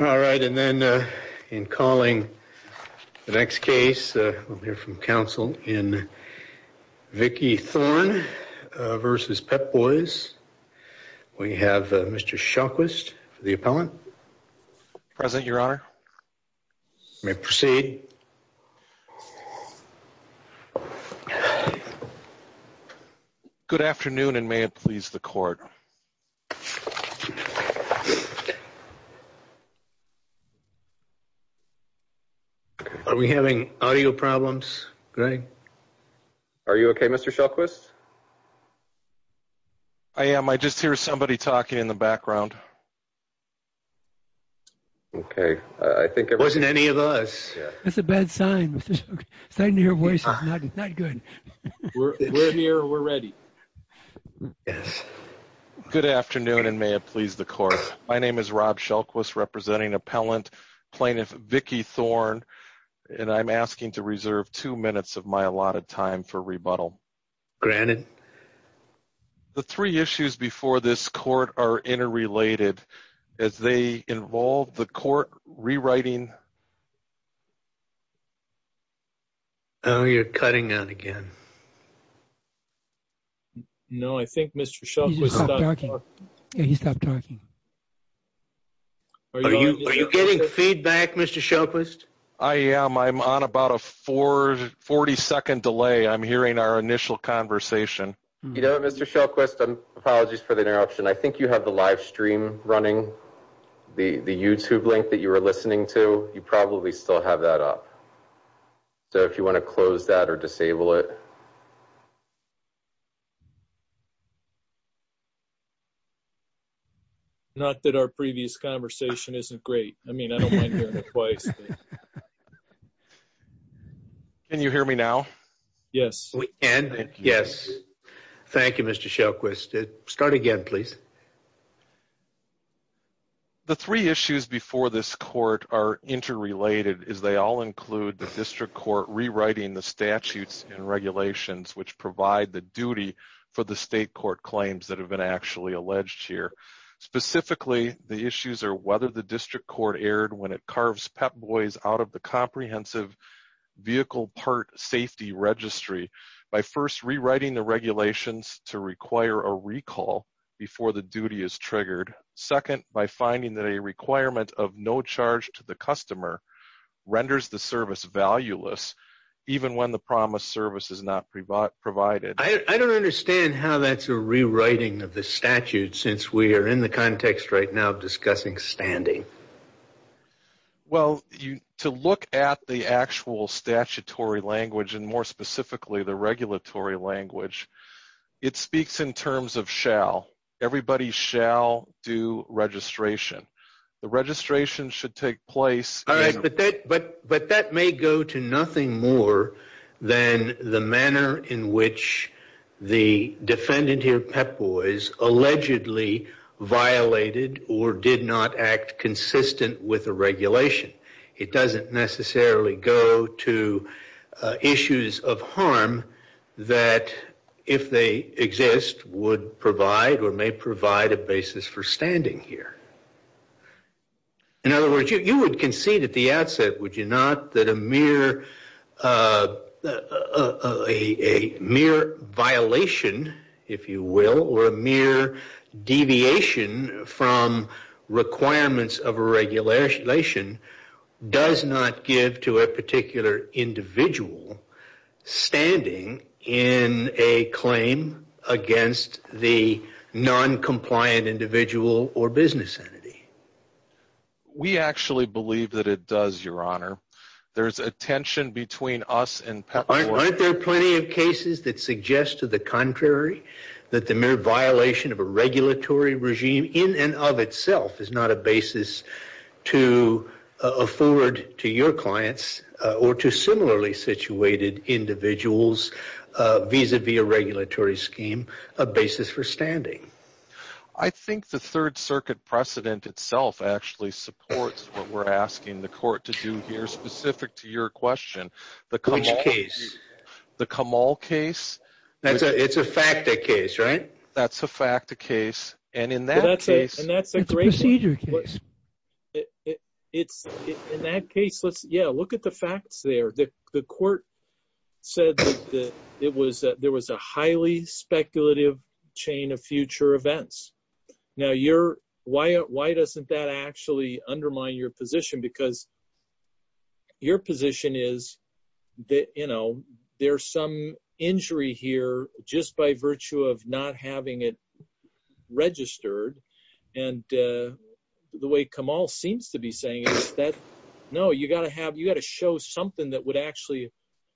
All right, and then in calling the next case, we'll hear from counsel in Vickie Thorne v. Pep Boys. We have Mr. Shawquist for the appellant. Present, Your Honor. You may proceed. Good afternoon, and may it please the court. Are we having audio problems, Greg? Are you OK, Mr. Shawquist? I am. I just hear somebody talking in the background. OK, I think it wasn't any of us. That's a bad sign. Starting to hear voices, not good. We're near, we're ready. Yes. Good afternoon, and may it please the court. My name is Rob Shawquist representing appellant plaintiff Vickie Thorne, and I'm asking to reserve two minutes of my allotted time for rebuttal. Granted. The three issues before this court are interrelated, as they involve the court rewriting. Oh, you're cutting out again. No, I think Mr. Shawquist stopped talking. Yeah, he stopped talking. Are you getting feedback, Mr. Shawquist? I am. I'm on about a 40 second delay. I'm hearing our initial conversation. You know, Mr. Shawquist, apologies for the interruption. I think you have the live stream running, the YouTube link that you were listening to. You probably still have that up. So if you want to close that or disable it. Not that our previous conversation isn't great. I mean, I don't mind hearing it twice. Can you hear me now? Yes. Yes. Thank you, Mr. Shawquist. Start again, please. The three issues before this court are interrelated, as they all include the district court rewriting the statutes and regulations which provide the duty for the state court claims that have been actually alleged here. Specifically, the issues are whether the district court erred when it carves Pep Boys out of the comprehensive vehicle part safety registry by first rewriting the regulations to require a recall before the duty is triggered, second, by finding that a requirement of no charge to the customer renders the service valueless, even when the promised service is not provided. I don't understand how that's a rewriting of the statute since we are in the context right now of discussing standing. Well, to look at the actual statutory language, and more specifically, the regulatory language, it speaks in terms of shall. Everybody shall do registration. The registration should take place. But that may go to nothing more than the manner in which the defendant here, Pep Boys, allegedly violated or did not act consistent with the regulation. It doesn't necessarily go to issues of harm that, if they exist, would provide or may provide a basis for standing here. In other words, you would concede at the outset, would you not, that a mere violation, if you will, or a mere deviation from requirements of a regulation does not give to a particular individual standing in a claim against the non-compliant individual or business entity. We actually believe that it does, Your Honor. There's a tension between us and Pep Boys. Aren't there plenty of cases that suggest to the contrary that the mere violation of a regulatory regime in and of itself is not a basis to afford to your clients or to similarly situated individuals vis-a-vis a regulatory scheme a basis for standing? I think the Third Circuit precedent itself actually supports what we're asking the court to do here, specific to your question. Which case? The Kamal case. It's a fact a case, right? That's a fact a case. And in that case, it's a procedure case. It's in that case. Yeah, look at the facts there. The court said that there was a highly speculative chain of future events. Now, why doesn't that actually undermine your position? Because your position is that there's some injury here just by virtue of not having it registered. And the way Kamal seems to be saying is that, no, you've got to show something that would actually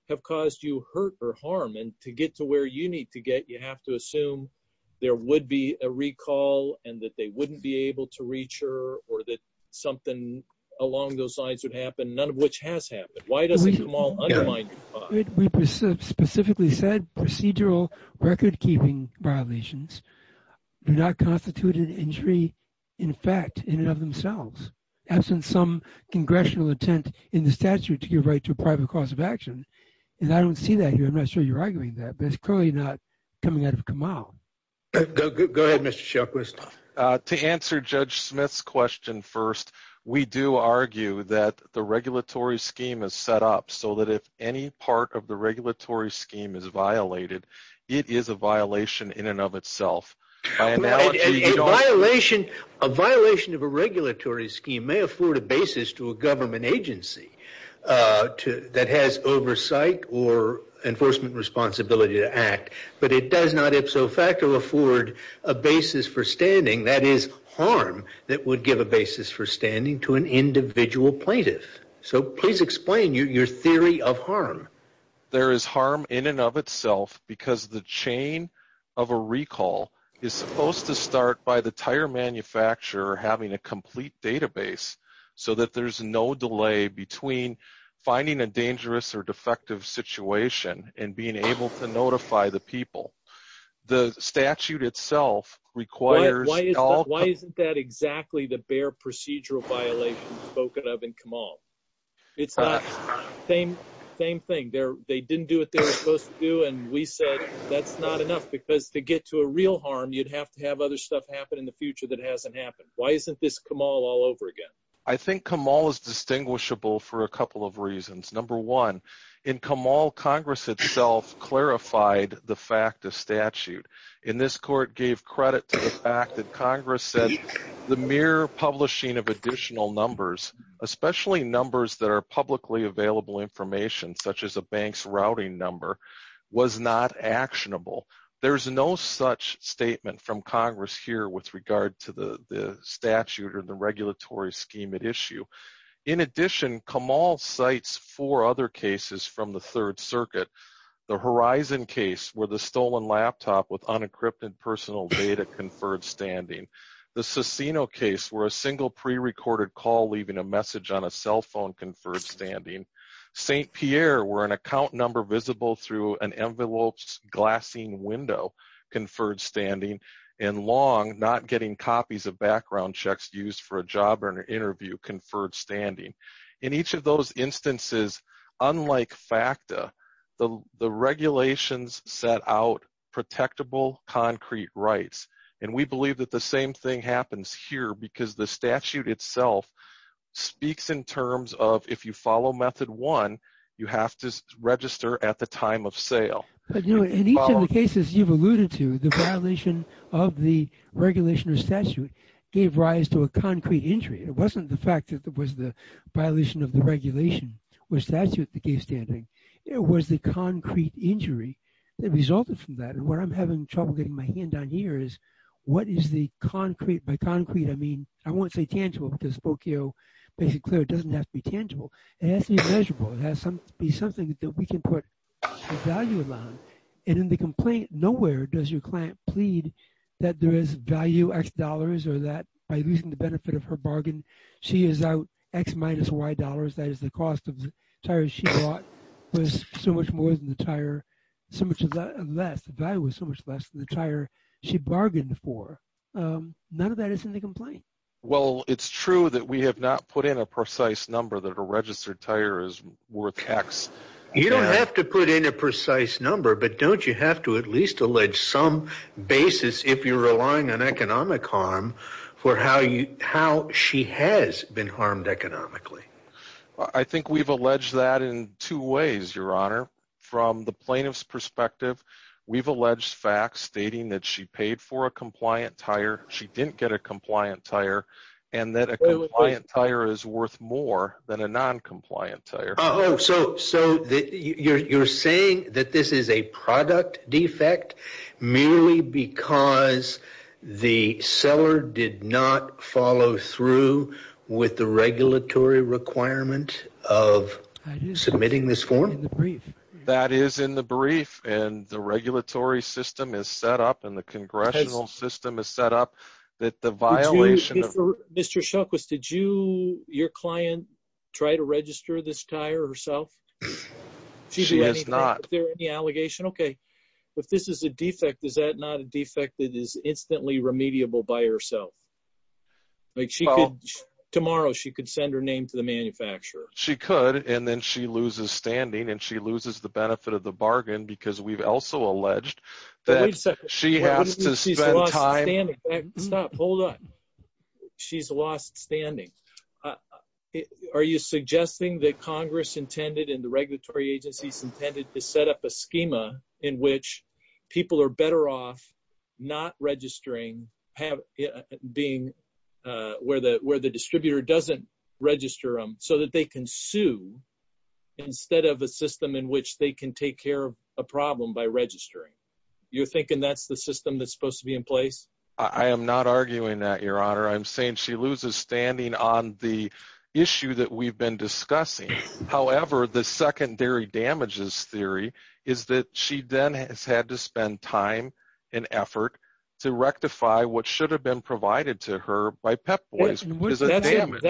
have caused you hurt or harm. And to get to where you need to get, you have to assume there would be a recall and that they wouldn't be able to reach her or that something along those lines would happen, none of which has happened. Why does Kamal undermine you? We specifically said procedural record-keeping violations do not constitute an injury, in fact, in and of themselves, absent some congressional intent in the statute to give right to a private cause of action. And I don't see that here. I'm not sure you're arguing that. But it's clearly not coming out of Kamal. Go ahead, Mr. Shelchquist. To answer Judge Smith's question first, we do argue that the regulatory scheme is set up so that if any part of the regulatory scheme is violated, it is a violation in and of itself. By analogy, you don't have to. A violation of a regulatory scheme may afford a basis to a government agency that has oversight or enforcement responsibility to act, but it does not ipso facto afford a basis for standing, that is, harm that would give a basis for standing to an individual plaintiff. So please explain your theory of harm. There is harm in and of itself because the chain of a recall is supposed to start by the tire manufacturer having a complete database so that there's no delay between finding a dangerous or defective situation and being able to notify the people. The statute itself requires all- Why isn't that exactly the bare procedural violation spoken of in Kamal? It's not, same thing. They didn't do what they were supposed to do, and we said that's not enough because to get to a real harm, you'd have to have other stuff happen in the future that hasn't happened. Why isn't this Kamal all over again? I think Kamal is distinguishable for a couple of reasons. Number one, in Kamal, Congress itself clarified the fact of statute. And this court gave credit to the fact that Congress said the mere publishing of additional numbers, especially numbers that are publicly available information, such as a bank's routing number, was not actionable. There's no such statement from Congress here with regard to the statute or the regulatory scheme at issue. In addition, Kamal cites four other cases from the Third Circuit. The Horizon case, where the stolen laptop with unencrypted personal data conferred standing. The Cicino case, where a single pre-recorded call leaving a message on a cell phone conferred standing. Saint Pierre, where an account number visible through an enveloped glassine window conferred standing. And Long, not getting copies of background checks used for a job or an interview conferred standing. In each of those instances, unlike FACTA, the regulations set out protectable concrete rights. And we believe that the same thing happens here because the statute itself speaks in terms of, if you follow method one, you have to register at the time of sale. But you know, in each of the cases you've alluded to, the violation of the regulation or statute gave rise to a concrete injury. It wasn't the fact that it was the violation of the regulation or statute that gave standing. It was the concrete injury that resulted from that. And what I'm having trouble getting my hand on here is what is the concrete, by concrete I mean, I won't say tangible because Spokio makes it clear it doesn't have to be tangible. It has to be measurable. It has to be something that we can put a value on. And in the complaint, nowhere does your client plead that there is value X dollars or that by losing the benefit of her bargain, she is out X minus Y dollars. That is the cost of the tires she bought was so much more than the tire, so much less, the value was so much less than the tire she bargained for. None of that is in the complaint. Well, it's true that we have not put in a precise number that a registered tire is worth X. You don't have to put in a precise number, but don't you have to at least allege some basis if you're relying on economic harm for how she has been harmed economically? I think we've alleged that in two ways, Your Honor. From the plaintiff's perspective, we've alleged facts stating that she paid for a compliant tire, she didn't get a compliant tire, and that a compliant tire is worth more than a non-compliant tire. Oh, so you're saying that this is a product defect merely because the seller did not follow through with the regulatory requirement of submitting this form? That is in the brief and the regulatory system is set up and the congressional system is set up that the violation of- Mr. Shukwas, did your client try to register this tire herself? She has not. Is there any allegation? Okay, if this is a defect, is that not a defect that is instantly remediable by herself? Tomorrow, she could send her name to the manufacturer. She could, and then she loses standing and she loses the benefit of the bargain because we've also alleged that she has to spend time- Stop, hold on. She's lost standing. Are you suggesting that Congress intended and the regulatory agencies intended to set up a schema in which people are better off not registering, where the distributor doesn't register them so that they can sue instead of a system in which they can take care of a problem by registering? You're thinking that's the system that's supposed to be in place? I am not arguing that, Your Honor. I'm saying she loses standing on the issue that we've been discussing. However, the secondary damages theory is that she then has had to spend time and effort to rectify what should have been provided to her by Pep Boys because of damage.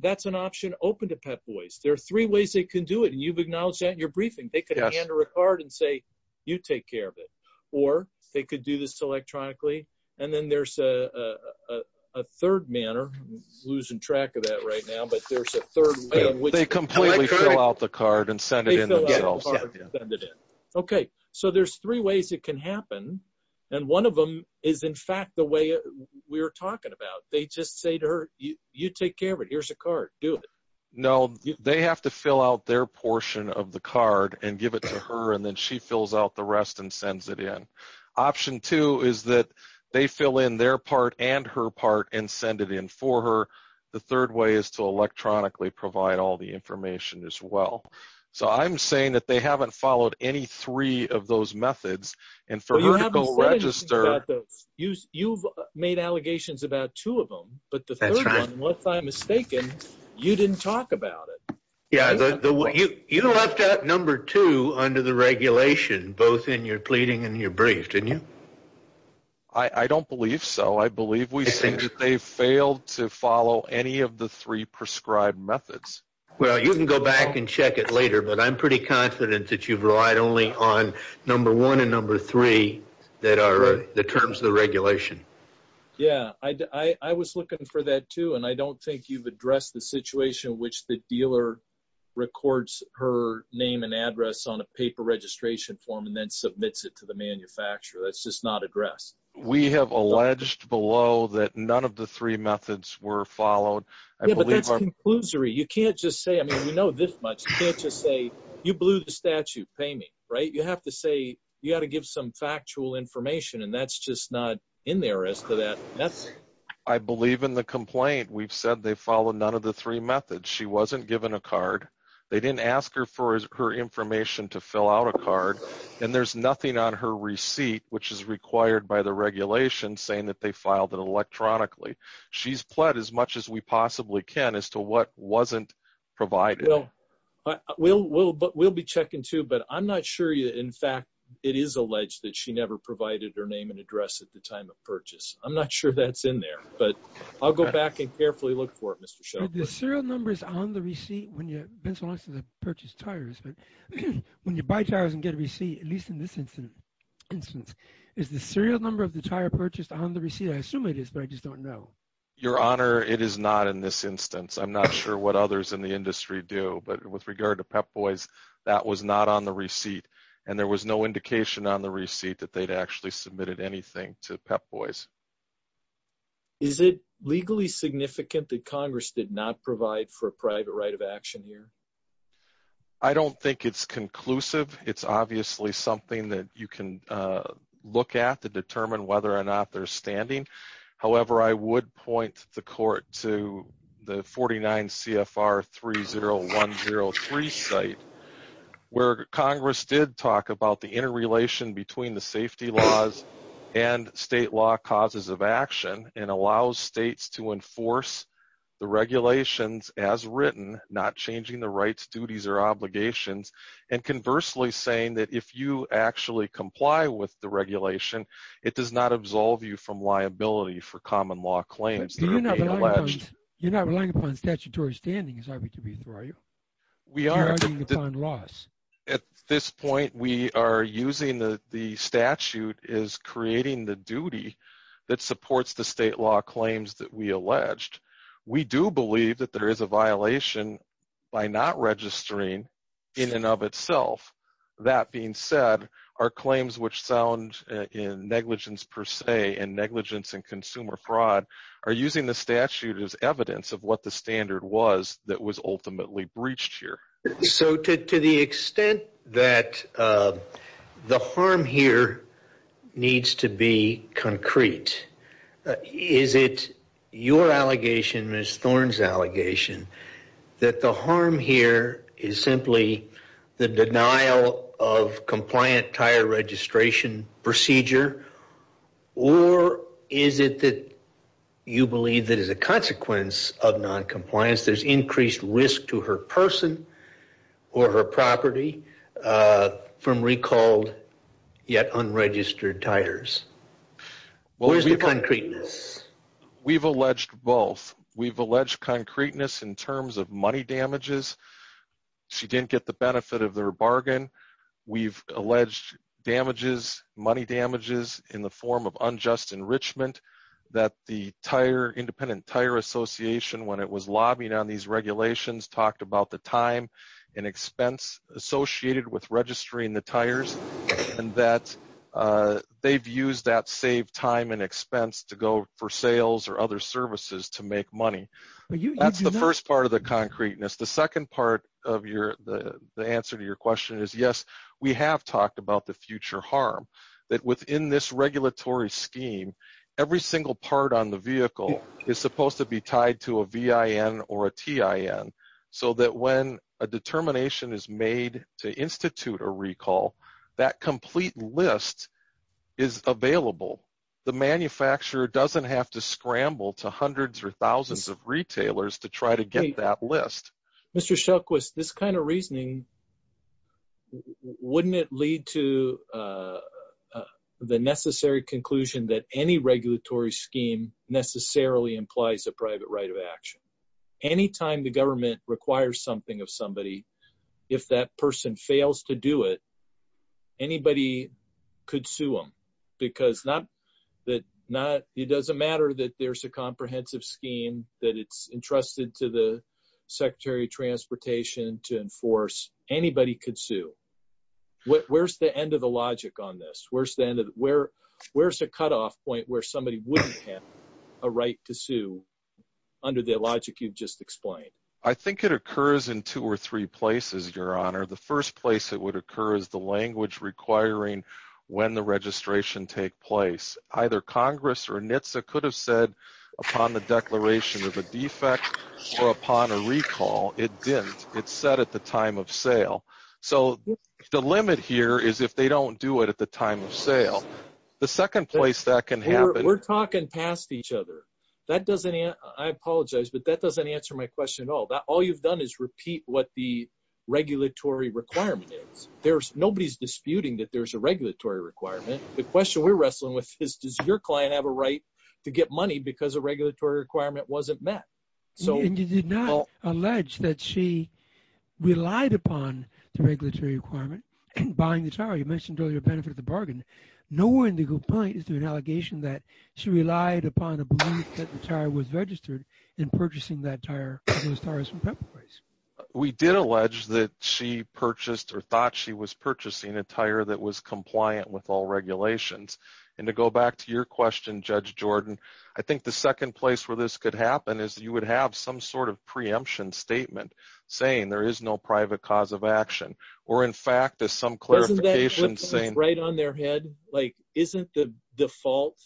That's an option open to Pep Boys. There are three ways they can do it, and you've acknowledged that in your briefing. They could hand her a card and say, you take care of it. Or they could do this electronically. And then there's a third manner. Losing track of that right now, but there's a third way in which- They completely fill out the card and send it in themselves. They fill out the card and send it in. Okay, so there's three ways it can happen. And one of them is, in fact, the way we were talking about. They just say to her, you take care of it. Here's a card, do it. No, they have to fill out their portion of the card and give it to her. And then she fills out the rest and sends it in. Option two is that they fill in their part and her part and send it in for her. The third way is to electronically provide all the information as well. So I'm saying that they haven't followed any three of those methods. And for her to go register- Well, you haven't said anything about those. You've made allegations about two of them. But the third one, if I'm mistaken, you didn't talk about it. Yeah, you left out number two under the regulation, both in your pleading and your brief, didn't you? I don't believe so. I believe we've seen that they've failed to follow any of the three prescribed methods. Well, you can go back and check it later, but I'm pretty confident that you've relied only on number one and number three that are the terms of the regulation. Yeah, I was looking for that too. And I don't think you've addressed the situation in which the dealer records her name and address on a paper registration form and then submits it to the manufacturer. That's just not addressed. We have alleged below that none of the three methods were followed. I believe our- Yeah, but that's conclusory. You can't just say, I mean, we know this much. You can't just say, you blew the statute, pay me, right? You have to say, you gotta give some factual information, and that's just not in there as to that. I believe in the complaint. We've said they followed none of the three methods. She wasn't given a card. They didn't ask her for her information to fill out a card. And there's nothing on her receipt, which is required by the regulation, saying that they filed it electronically. She's pled as much as we possibly can as to what wasn't provided. Well, we'll be checking too, but I'm not sure you, in fact, it is alleged that she never provided her name and address at the time of purchase. I'm not sure that's in there, but I'll go back and carefully look for it, Mr. Sheldon. Are the serial numbers on the receipt when you, been so long since I've purchased tires, but when you buy tires and get a receipt, at least in this instance, is the serial number of the tire purchased on the receipt? I assume it is, but I just don't know. Your Honor, it is not in this instance. I'm not sure what others in the industry do, but with regard to Pep Boys, that was not on the receipt, and there was no indication on the receipt that they'd actually submitted anything to Pep Boys. Is it legally significant that Congress did not provide for a private right of action here? I don't think it's conclusive. It's obviously something that you can look at to determine whether or not they're standing. However, I would point the court to the 49 CFR 30103 site, where Congress did talk about the interrelation between the safety laws and state law, the causes of action, and allows states to enforce the regulations as written, not changing the rights, duties, or obligations, and conversely saying that if you actually comply with the regulation, it does not absolve you from liability for common law claims that are being alleged. You're not relying upon statutory standing, is that what you're being through, are you? We are. At this point, we are using the statute as creating the duty that supports the state law claims that we alleged. We do believe that there is a violation by not registering in and of itself. That being said, our claims which sound in negligence per se and negligence in consumer fraud are using the statute as evidence of what the standard was that was ultimately breached here. So to the extent that the harm here needs to be concrete, is it your allegation, Ms. Thorne's allegation, that the harm here is simply the denial of compliant tire registration procedure, or is it that you believe that as a consequence of noncompliance, there's increased risk to her person or her property from recalled yet unregistered tires? What is the concreteness? We've alleged both. We've alleged concreteness in terms of money damages. She didn't get the benefit of their bargain. We've alleged damages, money damages in the form of unjust enrichment that the Independent Tire Association, when it was lobbying on these regulations, talked about the time and expense associated with registering the tires, and that they've used that saved time and expense to go for sales or other services to make money. That's the first part of the concreteness. The second part of the answer to your question is, yes, we have talked about the future harm, that within this regulatory scheme, every single part on the vehicle is supposed to be tied to a VIN or a TIN, so that when a determination is made to institute a recall, that complete list is available. The manufacturer doesn't have to scramble to hundreds or thousands of retailers to try to get that list. Mr. Shelquist, this kind of reasoning, wouldn't it lead to the necessary conclusion that any regulatory scheme necessarily implies a private right of action? Anytime the government requires something of somebody, if that person fails to do it, anybody could sue them, because it doesn't matter that there's a comprehensive scheme that it's entrusted to the Secretary of Transportation to enforce, anybody could sue. Where's the end of the logic on this? Where's the cutoff point where somebody wouldn't have a right to sue under the logic you've just explained? I think it occurs in two or three places, Your Honor. The first place it would occur is the language requiring when the registration take place. Either Congress or NHTSA could have said upon the declaration of a defect or upon a recall, it didn't, it said at the time of sale. So the limit here is if they don't do it at the time of sale. The second place that can happen- We're talking past each other. That doesn't, I apologize, but that doesn't answer my question at all. All you've done is repeat what the regulatory requirement is. Nobody's disputing that there's a regulatory requirement. The question we're wrestling with is, does your client have a right to get money because a regulatory requirement wasn't met? So- And you did not allege that she relied upon the regulatory requirement in buying the tower. You mentioned earlier the benefit of the bargain. Nowhere in the complaint is there an allegation that she relied upon a belief that the tower was registered in purchasing that tower, those towers from Pepperprice. We did allege that she purchased or thought she was purchasing a tower that was compliant with all regulations. And to go back to your question, Judge Jordan, I think the second place where this could happen is you would have some sort of preemption statement saying there is no private cause of action. Or in fact, there's some clarification saying- Isn't that right on their head? Like, isn't the default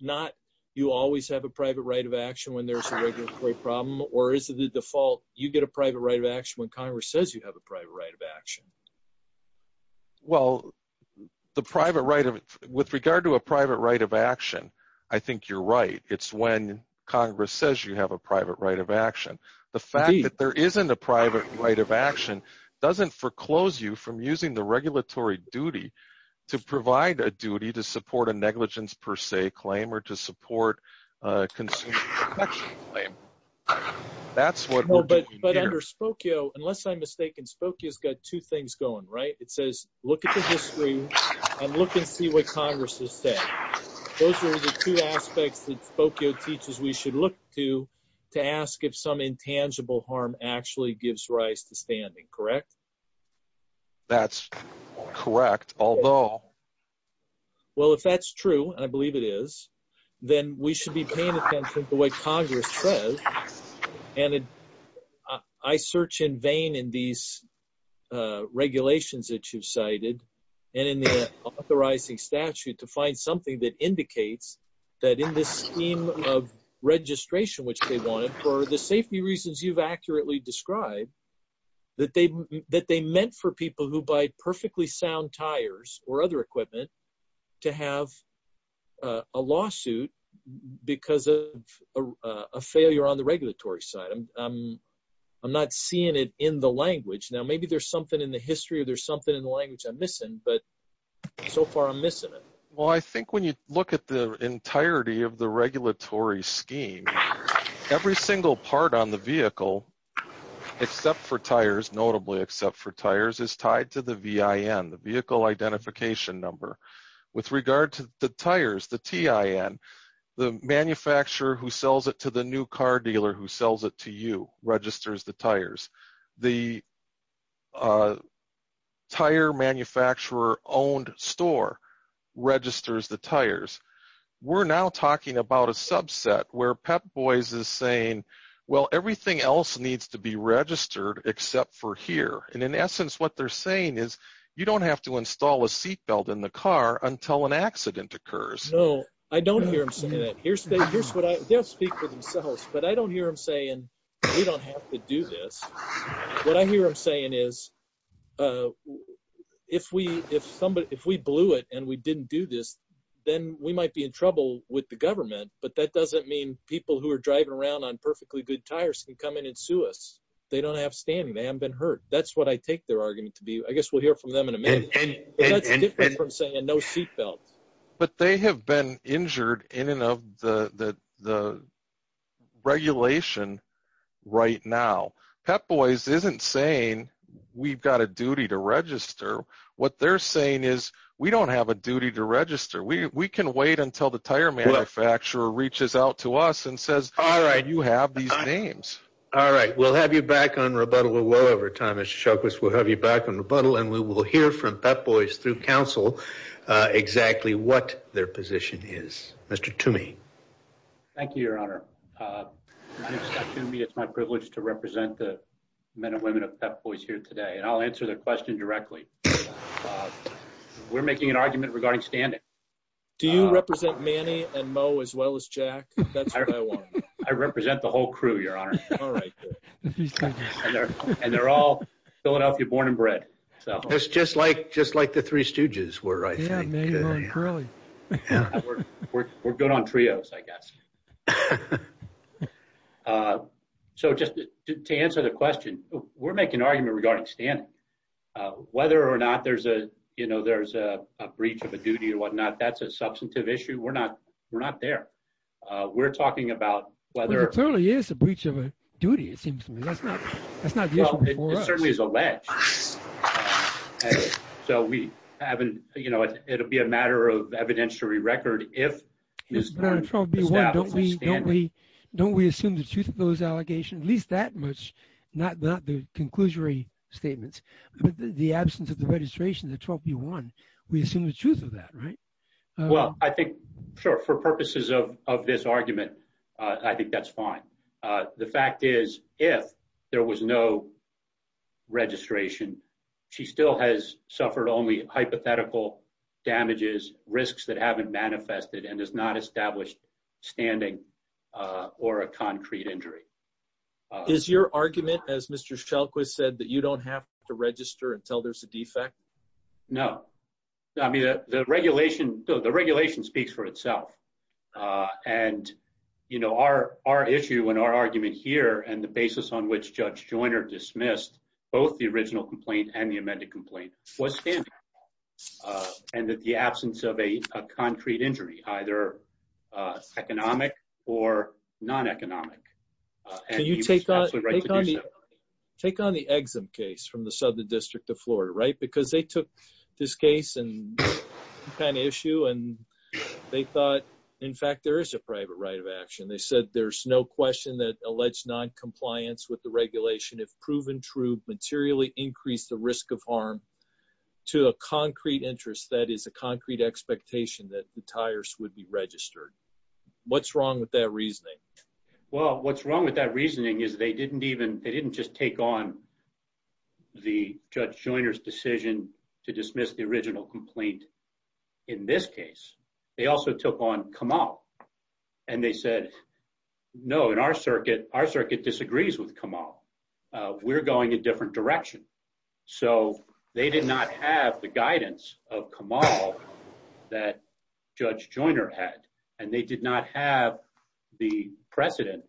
not, you always have a private right of action when there's a regulatory problem? Or is it the default, you get a private right of action when Congress says you have a private right of action? Well, the private right of, with regard to a private right of action, I think you're right. It's when Congress says you have a private right of action. The fact that there isn't a private right of action doesn't foreclose you from using the regulatory duty to provide a duty to support a negligence per se claim or to support a consumer protection claim. That's what we're doing here. But under Spokio, unless I'm mistaken, Spokio's got two things going, right? It says, look at the history and look and see what Congress has said. Those are the two aspects that Spokio teaches we should look to to ask if some intangible harm actually gives rise to standing, correct? That's correct, although. Well, if that's true, and I believe it is, then we should be paying attention to what Congress says. And I search in vain in these regulations that you've cited and in the authorizing statute to find something that indicates that in this scheme of registration, which they wanted for the safety reasons you've accurately described, that they meant for people who buy perfectly sound tires or other equipment to have a lawsuit because of a failure on the regulatory side. I'm not seeing it in the language. Now, maybe there's something in the history or there's something in the language I'm missing, but so far I'm missing it. Well, I think when you look at the entirety of the regulatory scheme, every single part on the vehicle, except for tires, notably except for tires, is tied to the VIN, the Vehicle Identification Number. With regard to the tires, the TIN, the manufacturer who sells it to the new car dealer who sells it to you registers the tires. The tire manufacturer-owned store registers the tires. We're now talking about a subset where Pep Boys is saying, well, everything else needs to be registered except for here. And in essence, what they're saying is you don't have to install a seatbelt in the car until an accident occurs. No, I don't hear them saying that. Here's what I, they'll speak for themselves, but I don't hear them saying we don't have to do this. What I hear them saying is if we blew it and we didn't do this, then we might be in trouble with the government, but that doesn't mean people who are driving around on perfectly good tires can come in and sue us. They don't have standing. They haven't been hurt. That's what I take their argument to be. I guess we'll hear from them in a minute. But that's different from saying no seatbelt. But they have been injured in and of the regulation right now. Pep Boys isn't saying we've got a duty to register. What they're saying is we don't have a duty to register. We can wait until the tire manufacturer reaches out to us and says, all right, you have these names. All right, we'll have you back on rebuttal or whatever time, Mr. Shoklis. We'll have you back on rebuttal and we will hear from Pep Boys through council exactly what their position is. Mr. Toomey. Thank you, your honor. My name is Scott Toomey. It's my privilege to represent the men and women of Pep Boys here today. And I'll answer their question directly. We're making an argument regarding standing. Do you represent Manny and Mo as well as Jack? That's what I want to know. I represent the whole crew, your honor. All right. And they're all Philadelphia born and bred. It's just like the Three Stooges were, I think. Yeah, Manny, Mo, and Curly. Yeah, we're good on trios, I guess. So just to answer the question, we're making an argument regarding standing. Whether or not there's a breach of a duty or whatnot, that's a substantive issue. We're not there. We're talking about whether- Well, it totally is a breach of a duty, it seems to me. That's not the issue before us. It certainly is alleged. So we haven't, you know, it'll be a matter of evidentiary record if he's going to establish a standing. Don't we assume the truth of those allegations, at least that much, not the conclusory statements, but the absence of the registration, the 12B1, we assume the truth of that, right? Well, I think, sure, for purposes of this argument, I think that's fine. The fact is, if there was no registration, she still has suffered only hypothetical damages, risks that haven't manifested and has not established standing or a concrete injury. Is your argument, as Mr. Shelquist said, that you don't have to register until there's a defect? No. I mean, the regulation speaks for itself. And, you know, our issue and our argument here and the basis on which Judge Joyner dismissed both the original complaint and the amended complaint was standing and that the absence of a concrete injury, either economic or non-economic- Absolutely right to do so. Take on the Exum case from the Southern District of Florida, right? Because they took this case and that issue and they thought, in fact, there is a private right of action. They said there's no question that alleged noncompliance with the regulation, if proven true, materially increase the risk of harm to a concrete interest, that is a concrete expectation that the tires would be registered. What's wrong with that reasoning? Well, what's wrong with that reasoning is they didn't just take on the Judge Joyner's decision to dismiss the original complaint in this case. They also took on Kamal. And they said, no, in our circuit, our circuit disagrees with Kamal. We're going a different direction. So they did not have the guidance of Kamal that Judge Joyner had. And they did not have the precedent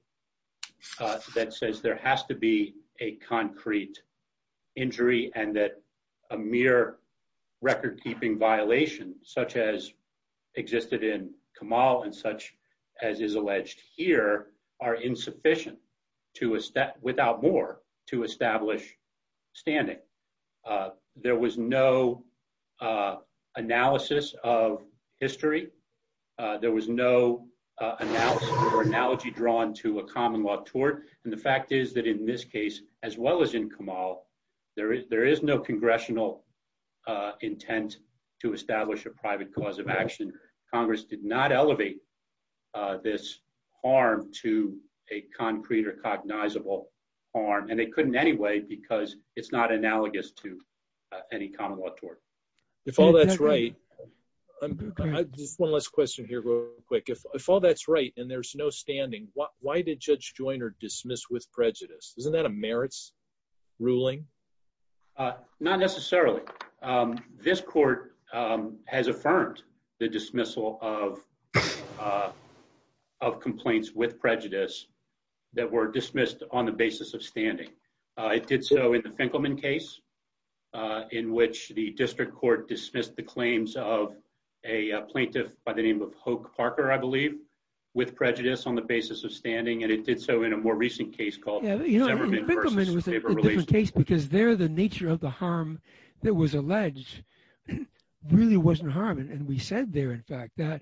that says there has to be a concrete injury and that a mere record-keeping violation such as existed in Kamal and such as is alleged here are insufficient without more to establish standing. There was no analysis of history. There was no analysis or analogy drawn to a common law tort. And the fact is that in this case, as well as in Kamal, there is no congressional intent to establish a private cause of action. Congress did not elevate this harm to a concrete or cognizable harm. And they couldn't anyway, because it's not analogous to any common law tort. If all that's right, just one last question here real quick. If all that's right and there's no standing, why did Judge Joyner dismiss with prejudice? Isn't that a merits ruling? Not necessarily. This court has affirmed the dismissal of complaints with prejudice that were dismissed on the basis of standing. It did so in the Finkelman case, in which the district court dismissed the claims of a plaintiff by the name of Hoke Parker, I believe, with prejudice on the basis of standing. And it did so in a more recent case called Zeverman versus paper release. Finkelman was a different case because there the nature of the harm that was alleged really wasn't harm. And we said there, in fact, that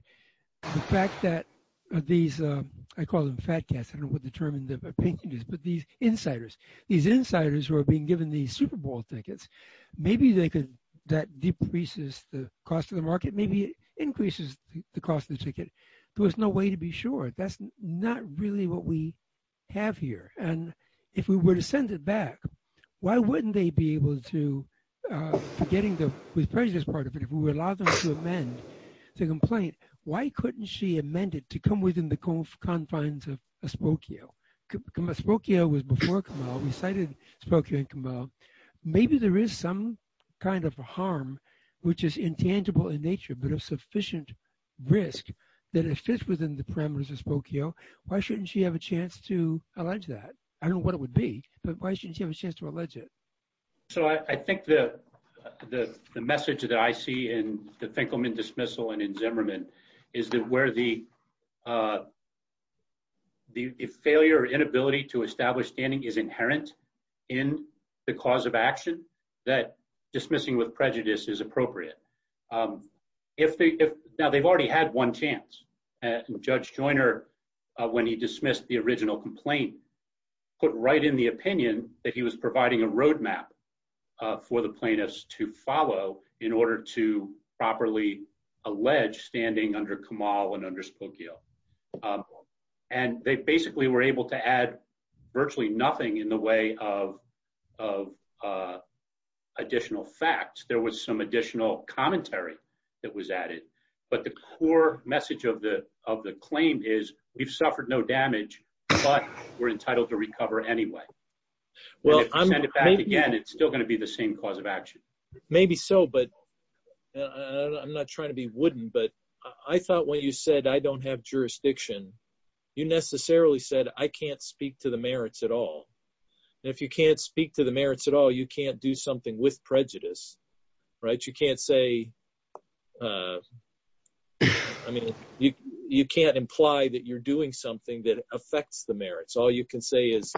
the fact that these, I call them fat cats. I don't know what the term in the opinion is, but these insiders, these insiders who are being given the Super Bowl tickets, maybe they could, that decreases the cost of the market, maybe it increases the cost of the ticket. There was no way to be sure. That's not really what we have here. And if we were to send it back, why wouldn't they be able to, forgetting the prejudice part of it, if we would allow them to amend the complaint, why couldn't she amend it to come within the confines of Asprokio? Asprokio was before Camel. We cited Asprokio and Camel. Maybe there is some kind of harm, which is intangible in nature, but of sufficient risk that it fits within the parameters of Asprokio. Why shouldn't she have a chance to allege that? I don't know what it would be, but why shouldn't she have a chance to allege it? So I think the message that I see in the Finkelman dismissal and in Zeverman is that where the failure or inability to establish standing is inherent in the cause of action, that dismissing with prejudice is appropriate. Now, they've already had one chance. Judge Joiner, when he dismissed the original complaint, put right in the opinion that he was providing a roadmap for the plaintiffs to follow in order to properly allege standing under Camel and under Asprokio. And they basically were able to add virtually nothing in the way of additional facts. There was some additional commentary that was added, but the core message of the claim is we've suffered no damage, but we're entitled to recover anyway. Well, if you send it back again, it's still gonna be the same cause of action. Maybe so, but I'm not trying to be wooden, but I thought when you said, I don't have jurisdiction, you necessarily said, I can't speak to the merits at all. And if you can't speak to the merits at all, you can't do something with prejudice, right? You can't say, I mean, you can't imply that you're doing something that affects the merits. All you can say is,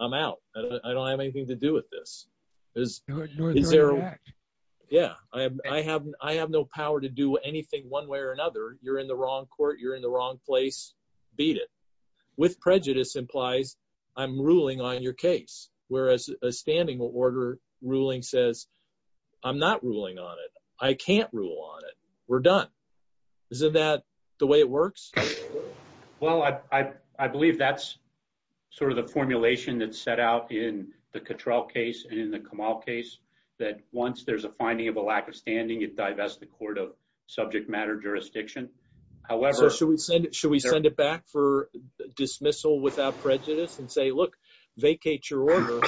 I'm out. I don't have anything to do with this. Is there, yeah, I have no power to do anything one way or another. You're in the wrong court. You're in the wrong place, beat it. With prejudice implies I'm ruling on your case. Whereas a standing order ruling says, I'm not ruling on it. I can't rule on it. We're done. Isn't that the way it works? Well, I believe that's sort of the formulation that's set out in the Cottrell case and in the Kamal case, that once there's a finding of a lack of standing, it divests the court of subject matter jurisdiction. However- So should we send it back for dismissal without prejudice and say, look, vacate your order,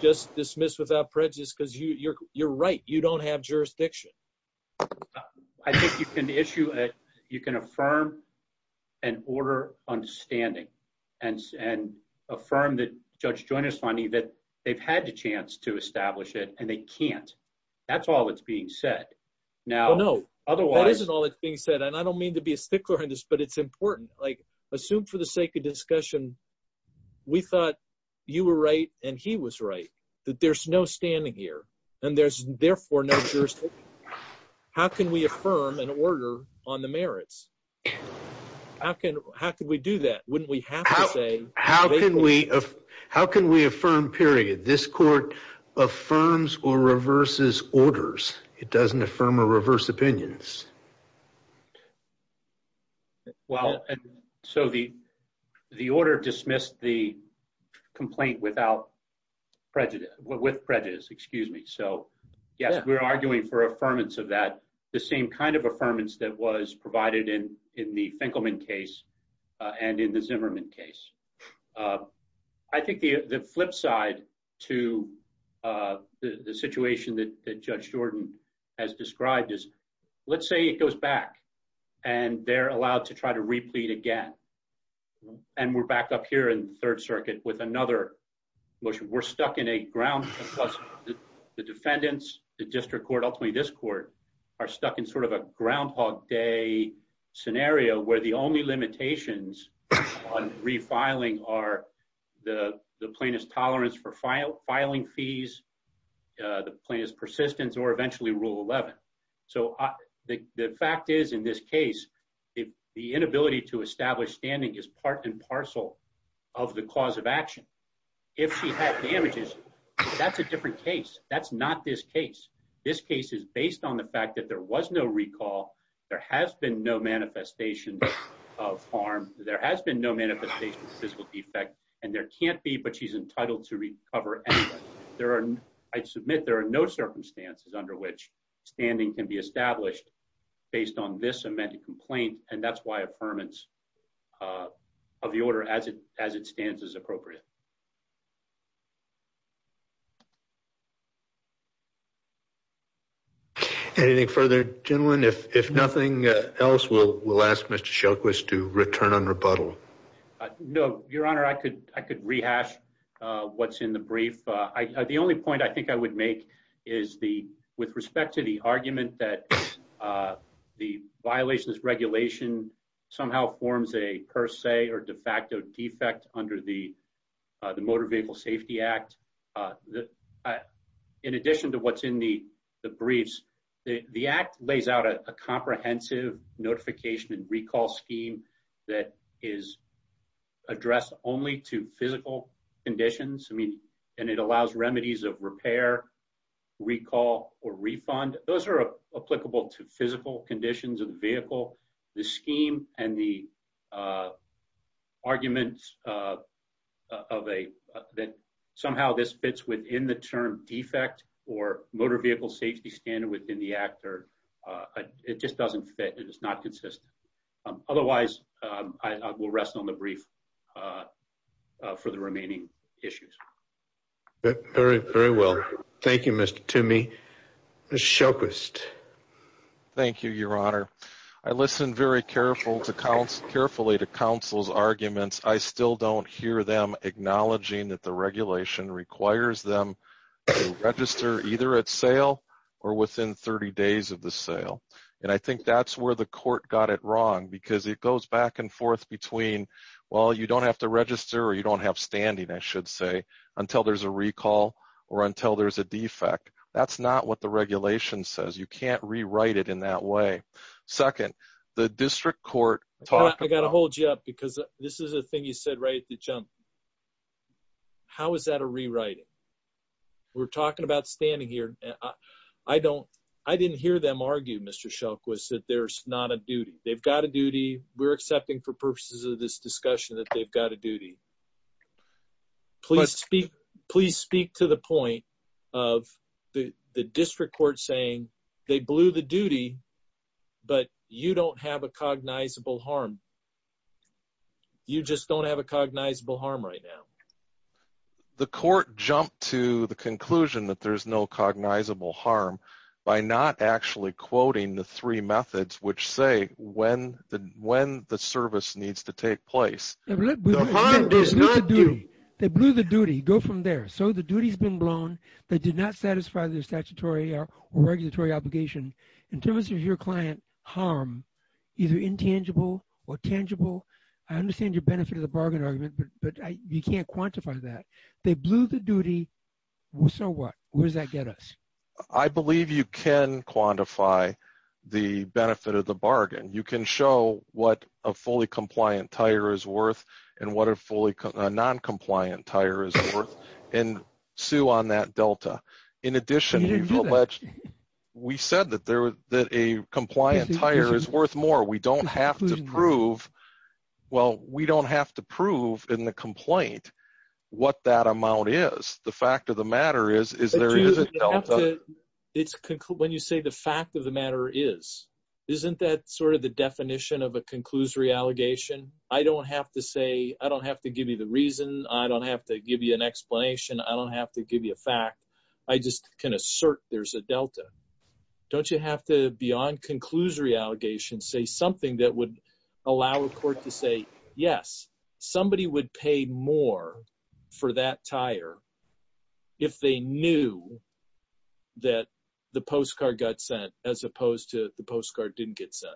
just dismiss without prejudice, because you're right. You don't have jurisdiction. I think you can issue, you can affirm an order on standing and affirm that Judge Joyner's finding that they've had a chance to establish it and they can't. That's all that's being said. Now, otherwise- No, that isn't all that's being said. And I don't mean to be a stickler on this, but it's important. Like assume for the sake of discussion, we thought you were right and he was right, that there's no standing here and there's therefore no jurisdiction. How can we affirm an order on the merits? How can we do that? Wouldn't we have to say- How can we affirm, period? This court affirms or reverses orders. It doesn't affirm or reverse opinions. Well, so the order dismissed the complaint without prejudice, with prejudice, excuse me. So yes, we're arguing for affirmance of that, the same kind of affirmance that was provided in the Finkelman case and in the Zimmerman case. I think the flip side to the situation that Judge Jordan has described is, let's say it goes back and they're allowed to try to replete again. And we're back up here in third circuit with another motion. We're stuck in a ground plus the defendants, the district court, ultimately this court are stuck in sort of a groundhog day scenario where the only limitations on refiling are the plaintiff's tolerance for filing fees, the plaintiff's persistence or eventually rule 11. So the fact is in this case, the inability to establish standing is part and parcel of the cause of action. If she had damages, that's a different case. That's not this case. This case is based on the fact that there was no recall. There has been no manifestation of harm. There has been no manifestation of physical defect and there can't be, but she's entitled to recover. I'd submit there are no circumstances under which standing can be established based on this amended complaint. And that's why affirmance of the order as it stands is appropriate. Anything further? Gentleman, if nothing else, we'll ask Mr. Shelquist to return on rebuttal. No, your honor, I could rehash what's in the brief. The only point I think I would make is with respect to the argument that the violations regulation somehow forms a per se or de facto defect under the Motor Vehicle Safety Act. In addition to what's in the briefs, the act lays out a comprehensive notification and recall scheme that is addressed only to physical conditions. I mean, and it allows remedies of repair, recall or refund. Those are applicable to physical conditions of the vehicle. The scheme and the arguments that somehow this fits within the term defect or Motor Vehicle Safety Standard within the act, it just doesn't fit, it is not consistent. Otherwise, I will rest on the brief for the remaining issues. Very, very well. Thank you, Mr. Toomey. Mr. Shelquist. Thank you, your honor. I listened very carefully to counsel's arguments. I still don't hear them acknowledging that the regulation requires them to register either at sale or within 30 days of the sale. And I think that's where the court got it wrong because it goes back and forth between, well, you don't have to register or you don't have standing, I should say, until there's a recall or until there's a defect. That's not what the regulation says. You can't rewrite it in that way. Second, the district court- I gotta hold you up because this is a thing you said right at the jump. How is that a rewriting? We're talking about standing here. I didn't hear them argue, Mr. Shelquist, that there's not a duty. They've got a duty. We're accepting for purposes of this discussion that they've got a duty. Please speak to the point of the district court saying they blew the duty, but you don't have a cognizable harm. You just don't have a cognizable harm right now. The court jumped to the conclusion that there's no cognizable harm by not actually quoting the three methods which say when the service needs to take place. The harm does not do. They blew the duty. Go from there. So the duty's been blown. They did not satisfy their statutory or regulatory obligation. In terms of your client harm, either intangible or tangible, I understand your benefit of the bargain argument, but you can't quantify that. They blew the duty, so what? Where does that get us? I believe you can quantify the benefit of the bargain. You can show what a fully compliant tire is worth and what a non-compliant tire is worth and sue on that delta. In addition- You didn't do that. We said that a compliant tire is worth more. We don't have to prove, well, we don't have to prove in the complaint what that amount is. The fact of the matter is there is a delta. It's, when you say the fact of the matter is, isn't that sort of the definition of a conclusory allegation? I don't have to say, I don't have to give you the reason. I don't have to give you an explanation. I don't have to give you a fact. I just can assert there's a delta. Don't you have to, beyond conclusory allegations, say something that would allow a court to say, yes, somebody would pay more for that tire if they knew that the postcard got sent as opposed to the postcard didn't get sent?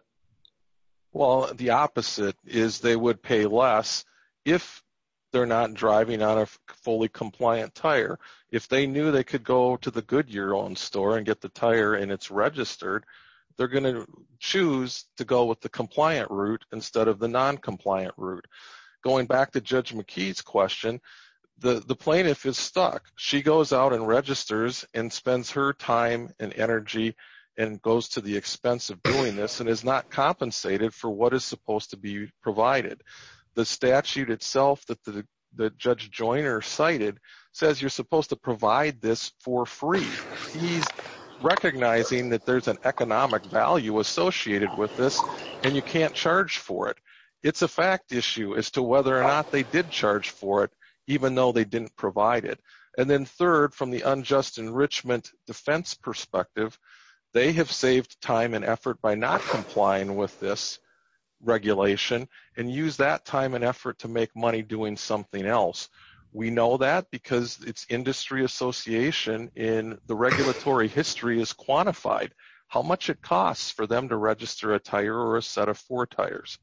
Well, the opposite is they would pay less if they're not driving on a fully compliant tire. If they knew they could go to the Goodyear-owned store and get the tire and it's registered, they're gonna choose to go with the compliant route instead of the non-compliant route. Going back to Judge McKee's question, the plaintiff is stuck. She goes out and registers and spends her time and energy and goes to the expense of doing this and is not compensated for what is supposed to be provided. The statute itself that Judge Joyner cited says you're supposed to provide this for free. He's recognizing that there's an economic value associated with this and you can't charge for it. It's a fact issue as to whether or not they did charge for it even though they didn't provide it. And then third, from the unjust enrichment defense perspective, they have saved time and effort by not complying with this regulation and use that time and effort to make money doing something else. We know that because it's industry association in the regulatory history is quantified. How much it costs for them to register a tire or a set of four tires.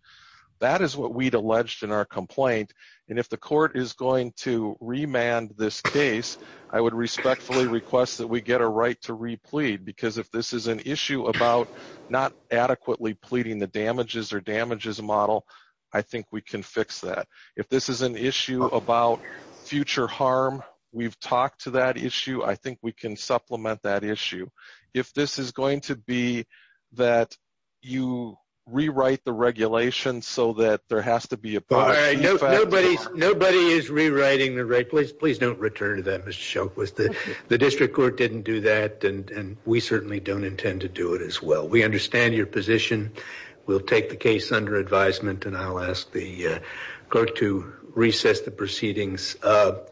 That is what we'd alleged in our complaint. And if the court is going to remand this case, I would respectfully request that we get a right to replead because if this is an issue about not adequately pleading the damages or damages model, I think we can fix that. If this is an issue about future harm, we've talked to that issue. I think we can supplement that issue. If this is going to be that you rewrite the regulation so that there has to be a- All right, nobody is rewriting the regulation. Please don't return to that, Mr. Shulk. The district court didn't do that and we certainly don't intend to do it as well. We understand your position. We'll take the case under advisement and I'll ask the court to recess the proceedings.